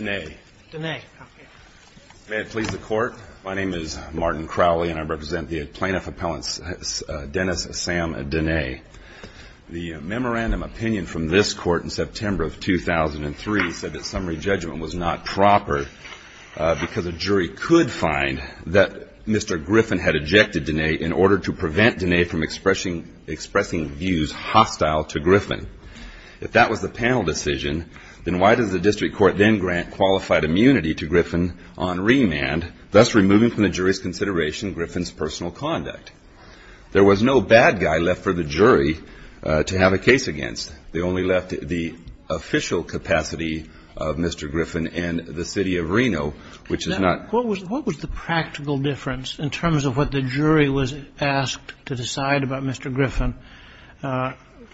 May it please the Court, my name is Martin Crowley and I represent the plaintiff appellant Dennis Sam Dehne. The memorandum opinion from this Court in September of 2003 said that summary judgment was not proper because a jury could find that Mr. Griffin had ejected Dehne in order to If that was the panel decision, then why does the District Court then grant qualified immunity to Griffin on remand, thus removing from the jury's consideration Griffin's personal conduct? There was no bad guy left for the jury to have a case against. They only left the official capacity of Mr. Griffin and the City of Reno, which is not What was the practical difference in terms of what the jury was asked to decide about Mr. Griffin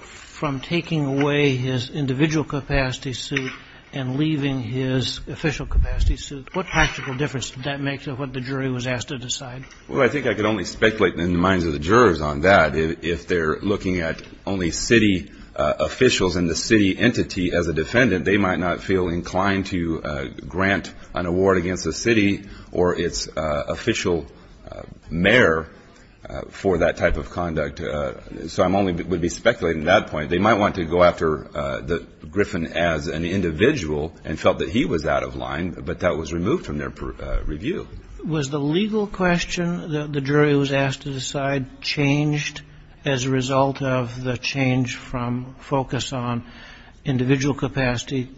from taking away his individual capacity suit and leaving his official capacity suit? What practical difference did that make to what the jury was asked to decide? Well, I think I could only speculate in the minds of the jurors on that. If they're looking at only city officials and the city entity as a defendant, they might not feel inclined to grant an award against the city or its official mayor for that type of conduct. So I only would be speculating at that point. They might want to go after Griffin as an individual and felt that he was out of line, but that was removed from their review. Was the legal question that the jury was asked to decide changed as a result of the change from focus on individual capacity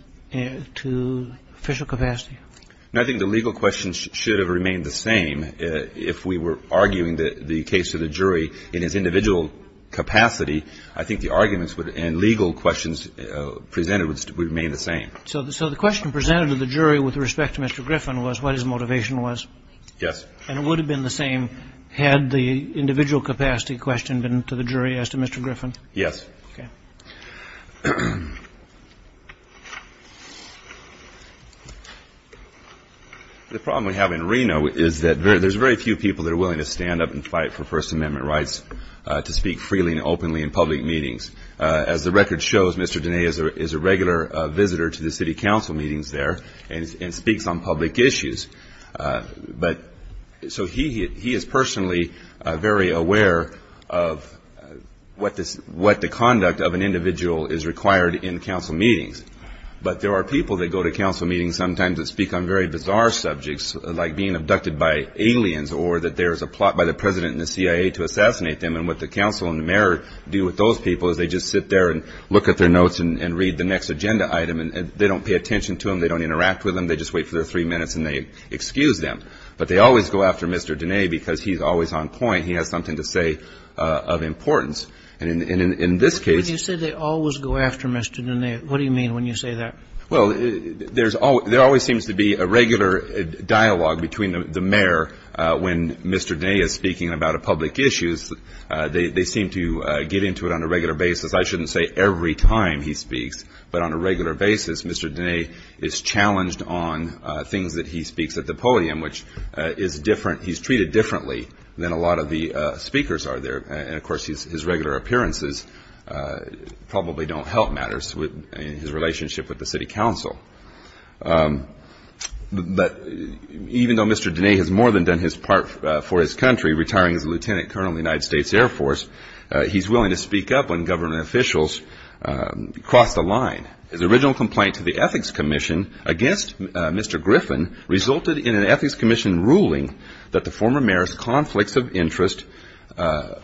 to official capacity? I think the legal questions should have remained the same. If we were arguing the case of the jury in its individual capacity, I think the arguments and legal questions presented would remain the same. So the question presented to the jury with respect to Mr. Griffin was what his motivation was? Yes. And it would have been the same had the individual capacity question been to the jury as to Mr. Griffin? Yes. Okay. The problem we have in Reno is that there's very few people that are willing to stand up and fight for First Amendment rights to speak freely and openly in public meetings. As the record shows, Mr. Denea is a regular visitor to the city council meetings there and speaks on public issues. So he is personally very aware of what the conduct of an individual is required in council meetings. But there are people that go to council meetings sometimes that speak on very bizarre subjects like being abducted by aliens or that there is a plot by the president and the CIA to assassinate them. And what the council and the mayor do with those people is they just sit there and look at their notes and read the next agenda item. And they don't pay attention to them. They don't interact with them. They just wait for their three minutes and they excuse them. But they always go after Mr. Denea because he's always on point. He has something to say of importance. And in this case — When you say they always go after Mr. Denea, what do you mean when you say that? Well, there always seems to be a regular dialogue between the mayor when Mr. Denea is speaking about public issues. They seem to get into it on a regular basis. I shouldn't say every time he speaks. But on a regular basis, Mr. Denea is challenged on things that he speaks at the podium, which is different. He's treated differently than a lot of the speakers are there. And, of course, his regular appearances probably don't help matters in his relationship with the city council. But even though Mr. Denea has more than done his part for his country, retiring as a lieutenant colonel in the United States Air Force, he's willing to speak up when government officials cross the line. His original complaint to the Ethics Commission against Mr. Griffin resulted in an Ethics Commission ruling that the former mayor's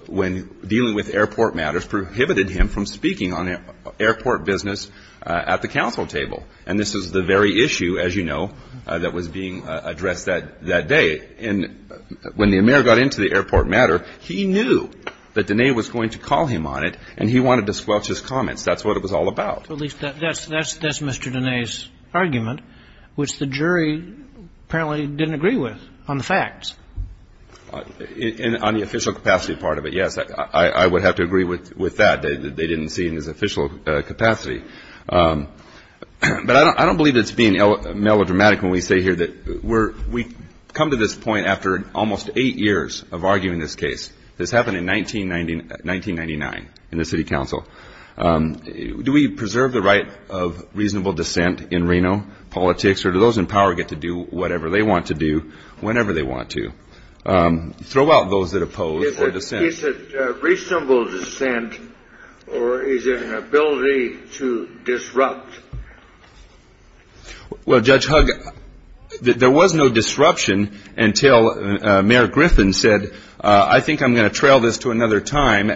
when dealing with airport matters prohibited him from speaking on airport business at the council table. And this is the very issue, as you know, that was being addressed that day. And when the mayor got into the airport matter, he knew that Denea was going to call him on it, and he wanted to squelch his comments. That's what it was all about. So at least that's Mr. Denea's argument, which the jury apparently didn't agree with on the facts. On the official capacity part of it, yes, I would have to agree with that. They didn't see it in his official capacity. But I don't believe it's being melodramatic when we say here that we come to this point after almost eight years of arguing this case. This happened in 1999 in the city council. Do we preserve the right of reasonable dissent in Reno politics, or do those in power get to do whatever they want to do whenever they want to? Throw out those that oppose the dissent. Is it reasonable dissent, or is it an ability to disrupt? Well, Judge Hugg, there was no disruption until Mayor Griffin said, I think I'm going to trail this to another time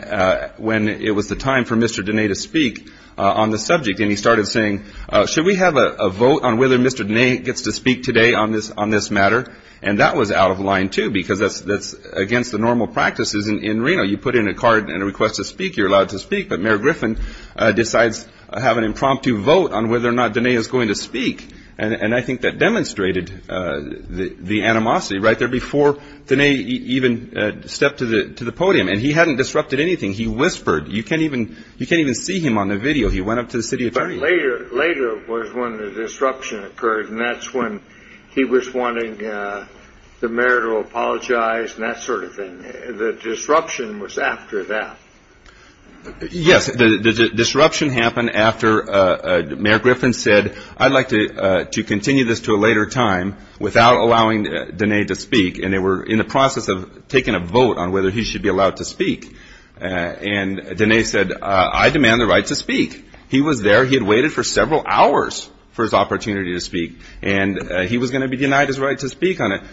when it was the time for Mr. Denea to speak on the subject. And he started saying, should we have a vote on whether Mr. Denea gets to speak today on this matter? And that was out of line, too, because that's against the normal practices in Reno. You put in a card and a request to speak, you're allowed to speak. But Mayor Griffin decides to have an impromptu vote on whether or not Denea is going to speak. And I think that demonstrated the animosity right there before Denea even stepped to the podium. And he hadn't disrupted anything. He whispered. You can't even see him on the video. He went up to the city attorney. But later was when the disruption occurred, and that's when he was wanting the mayor to apologize and that sort of thing. The disruption was after that. Yes, the disruption happened after Mayor Griffin said, I'd like to continue this to a later time without allowing Denea to speak. And they were in the process of taking a vote on whether he should be allowed to speak. And Denea said, I demand the right to speak. He was there. He had waited for several hours for his opportunity to speak. And he was going to be denied his right to speak in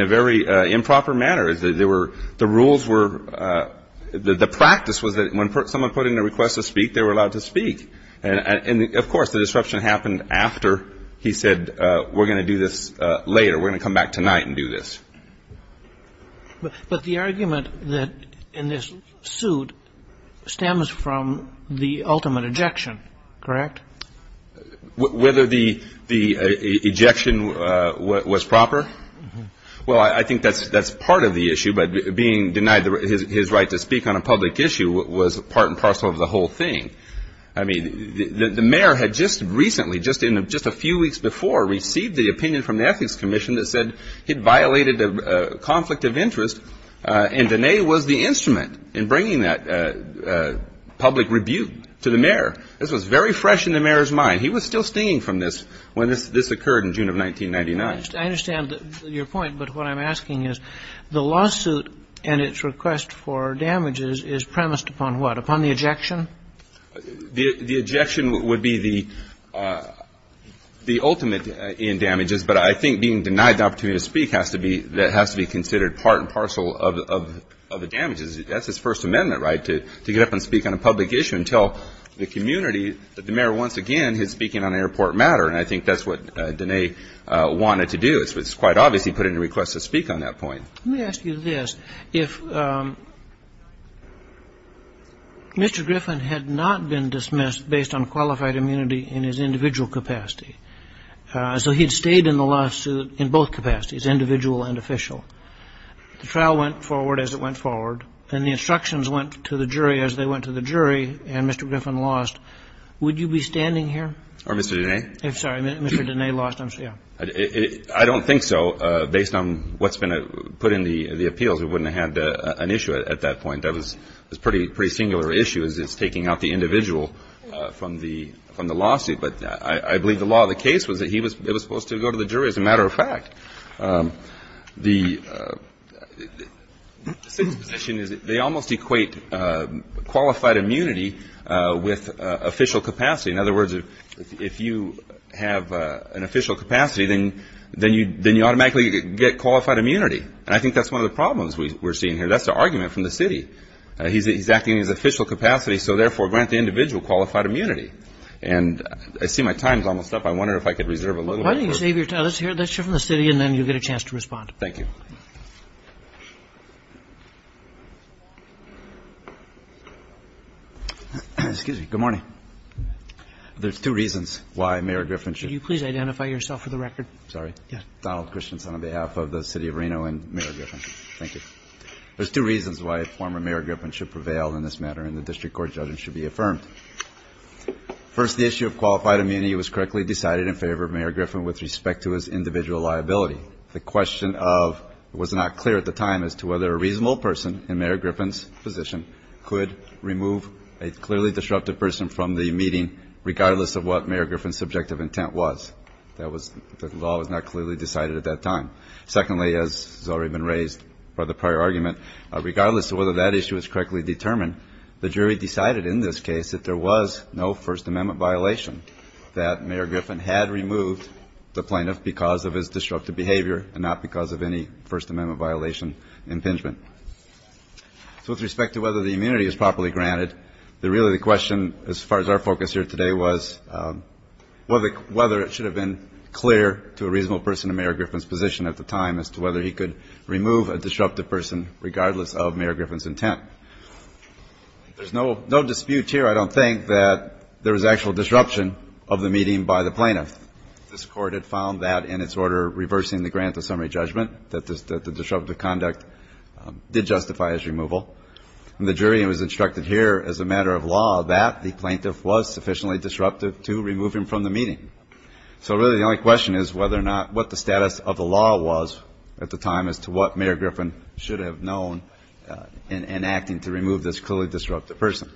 a very improper manner. The rules were the practice was that when someone put in a request to speak, they were allowed to speak. And, of course, the disruption happened after he said, we're going to do this later. We're going to come back tonight and do this. But the argument in this suit stems from the ultimate ejection, correct? Whether the ejection was proper? Well, I think that's part of the issue. But being denied his right to speak on a public issue was part and parcel of the whole thing. I mean, the mayor had just recently, just a few weeks before, received the opinion from the Ethics Commission that said he'd violated a conflict of interest. And Denea was the instrument in bringing that public rebuke to the mayor. This was very fresh in the mayor's mind. He was still stinging from this when this occurred in June of 1999. I understand your point. But what I'm asking is the lawsuit and its request for damages is premised upon what? Upon the ejection? The ejection would be the ultimate in damages. But I think being denied the opportunity to speak has to be considered part and parcel of the damages. That's his First Amendment, right, to get up and speak on a public issue and tell the community that the mayor once again is speaking on airport matter. And I think that's what Denea wanted to do. It's quite obvious he put in a request to speak on that point. Let me ask you this. If Mr. Griffin had not been dismissed based on qualified immunity in his individual capacity, so he had stayed in the lawsuit in both capacities, individual and official, the trial went forward as it went forward, and the instructions went to the jury as they went to the jury, and Mr. Griffin lost, would you be standing here? Or Mr. Denea? I'm sorry, Mr. Denea lost. I don't think so. Based on what's been put in the appeals, we wouldn't have had an issue at that point. That was a pretty singular issue as it's taking out the individual from the lawsuit. But I believe the law of the case was that he was supposed to go to the jury. As a matter of fact, the city's position is they almost equate qualified immunity with official capacity. In other words, if you have an official capacity, then you automatically get qualified immunity. And I think that's one of the problems we're seeing here. That's the argument from the city. He's acting in his official capacity, so therefore grant the individual qualified immunity. And I see my time's almost up. I wonder if I could reserve a little bit. Why don't you save your time? Let's hear it. Let's hear it from the city, and then you'll get a chance to respond. Thank you. Excuse me. Good morning. There's two reasons why Mayor Griffin should be. Could you please identify yourself for the record? Sorry. Yes. Donald Christensen on behalf of the City of Reno and Mayor Griffin. Thank you. There's two reasons why a former Mayor Griffin should prevail in this matter, and the district court judgment should be affirmed. First, the issue of qualified immunity was correctly decided in favor of Mayor Griffin with respect to his individual liability. The question was not clear at the time as to whether a reasonable person in Mayor Griffin's position could remove a clearly disruptive person from the meeting, regardless of what Mayor Griffin's subjective intent was. The law was not clearly decided at that time. Secondly, as has already been raised by the prior argument, regardless of whether that issue is correctly determined, the jury decided in this case that there was no First Amendment violation, that Mayor Griffin had removed the plaintiff because of his disruptive behavior and not because of any First Amendment violation impingement. So with respect to whether the immunity is properly granted, really the question as far as our focus here today was whether it should have been clear to a reasonable person in Mayor Griffin's position at the time as to whether he could remove a disruptive person, regardless of Mayor Griffin's intent. There's no dispute here. I don't think that there was actual disruption of the meeting by the plaintiff. This Court had found that in its order reversing the grant of summary judgment, that the disruptive conduct did justify his removal. And the jury was instructed here as a matter of law that the plaintiff was sufficiently disruptive to remove him from the meeting. So really the only question is whether or not what the status of the law was at the time as to what Mayor Griffin should have known in acting to remove this clearly disruptive person.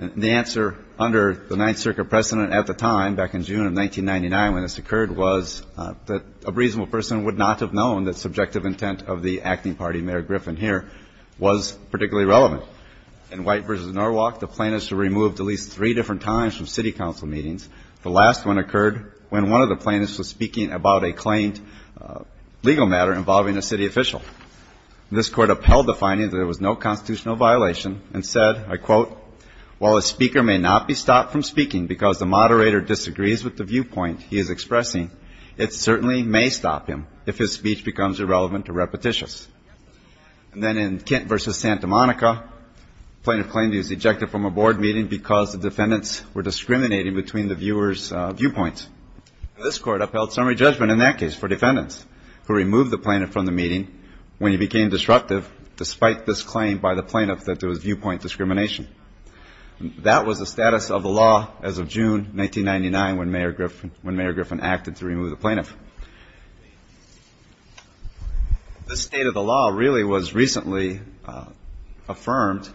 The answer under the Ninth Circuit precedent at the time, back in June of 1999 when this occurred, was that a reasonable person would not have known that subjective intent of the acting party, Mayor Griffin here, was particularly relevant. In White v. Norwalk, the plaintiffs were removed at least three different times from city council meetings. The last one occurred when one of the plaintiffs was speaking about a claimed legal matter involving a city official. This Court upheld the finding that there was no constitutional violation and said, I quote, while a speaker may not be stopped from speaking because the moderator disagrees with the viewpoint he is expressing, it certainly may stop him if his speech becomes irrelevant or repetitious. And then in Kent v. Santa Monica, the plaintiff claimed he was ejected from a board meeting because the defendants were discriminating between the viewers' viewpoints. This Court upheld summary judgment in that case for defendants who removed the plaintiff from the meeting when he became disruptive despite this claim by the plaintiff that there was viewpoint discrimination. That was the status of the law as of June 1999 when Mayor Griffin acted to remove the plaintiff. The state of the law really was recently affirmed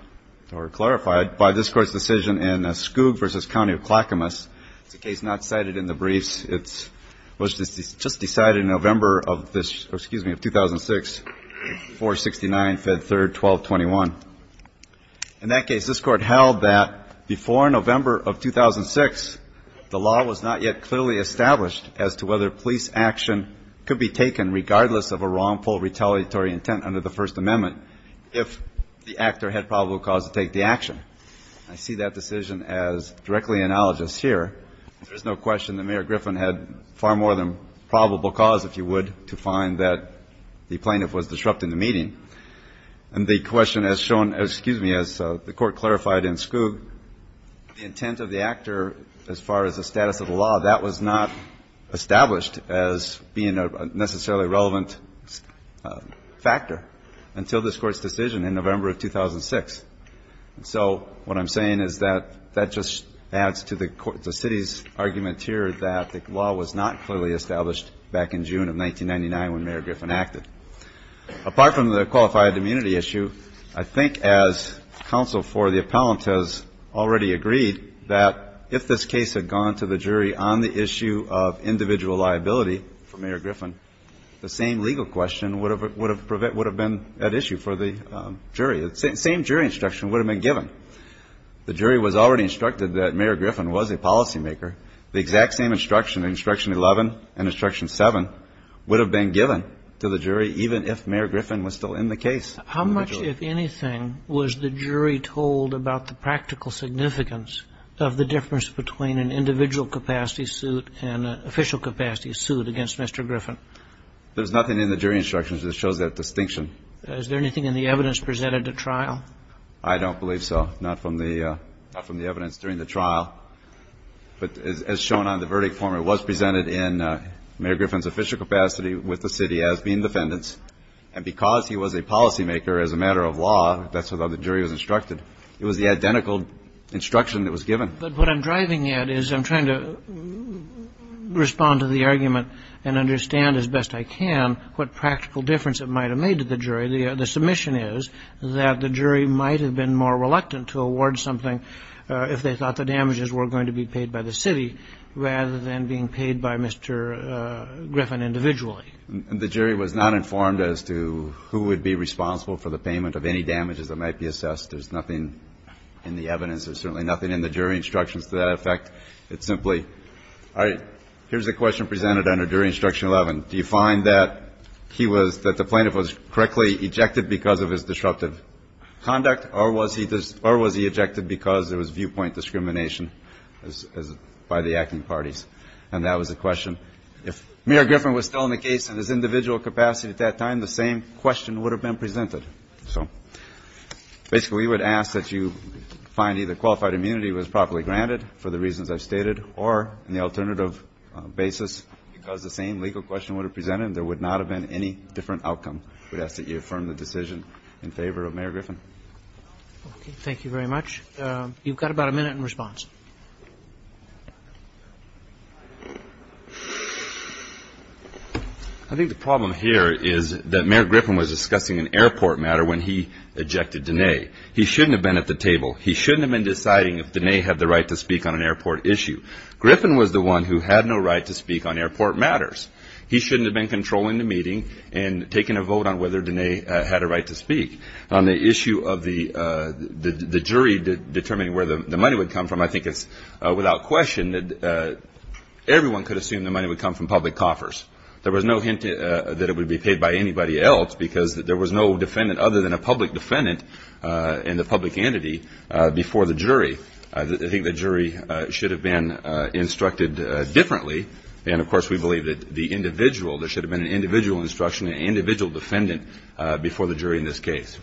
or clarified by this Court's decision in Skoog v. County of Clackamas. It's a case not cited in the briefs. It was just decided in November of 2006, 469, Fed 3rd, 1221. In that case, this Court held that before November of 2006, the law was not yet clearly established as to whether police action could be taken, regardless of a wrongful retaliatory intent under the First Amendment, if the actor had probable cause to take the action. I see that decision as directly analogous here. There's no question that Mayor Griffin had far more than probable cause, if you would, to find that the plaintiff was disrupting the meeting. And the question as shown as, excuse me, as the Court clarified in Skoog, the intent of the actor as far as the status of the law, that was not established as being a necessarily relevant factor until this Court's decision in November of 2006. So what I'm saying is that that just adds to the city's argument here that the law was not clearly established back in June of 1999 when Mayor Griffin acted. Apart from the qualified immunity issue, I think as counsel for the appellant has already agreed that if this case had gone to the jury on the issue of individual liability for Mayor Griffin, the same legal question would have been at issue for the jury. The same jury instruction would have been given. The jury was already instructed that Mayor Griffin was a policymaker. The exact same instruction, instruction 11 and instruction 7, would have been given to the jury even if Mayor Griffin was still in the case. How much, if anything, was the jury told about the practical significance of the difference between an individual capacity suit and an official capacity suit against Mr. Griffin? There's nothing in the jury instructions that shows that distinction. Is there anything in the evidence presented at trial? I don't believe so. Not from the evidence during the trial. But as shown on the verdict form, it was presented in Mayor Griffin's official capacity with the city as being defendants. And because he was a policymaker as a matter of law, that's what the jury was instructed. It was the identical instruction that was given. The jury was not informed as to who would be responsible for the payment of any damages that might be assessed. There's nothing in the evidence. There's certainly nothing in the jury instructions to that effect. It's simply, all right, here's a question presented under section 11, It says, Do you find that the plaintiff was correctly ejected because of his disruptive conduct or was he ejected because there was viewpoint discrimination by the acting parties? And that was the question. If Mayor Griffin was still in the case in his individual capacity at that time, the same question would have been presented. So basically, we would ask that you find either qualified immunity was properly granted, for the reasons I've stated, or in the alternative basis, because the same legal question would have presented, there would not have been any different outcome. We'd ask that you affirm the decision in favor of Mayor Griffin. Thank you very much. You've got about a minute in response. I think the problem here is that Mayor Griffin was discussing an airport matter when he ejected Diné. He shouldn't have been at the table. He shouldn't have been deciding if Diné had the right to speak on an airport issue. Griffin was the one who had no right to speak on airport matters. He shouldn't have been controlling the meeting and taking a vote on whether Diné had a right to speak. On the issue of the jury determining where the money would come from, I think it's without question that everyone could assume the money would come from public coffers. There was no hint that it would be paid by anybody else because there was no defendant other than a public defendant and a public entity before the jury. I think the jury should have been instructed differently. Of course, we believe that there should have been an individual instruction, an individual defendant before the jury in this case.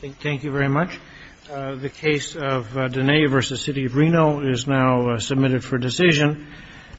Thank you very much. The case of Diné v. City of Reno is now submitted for decision.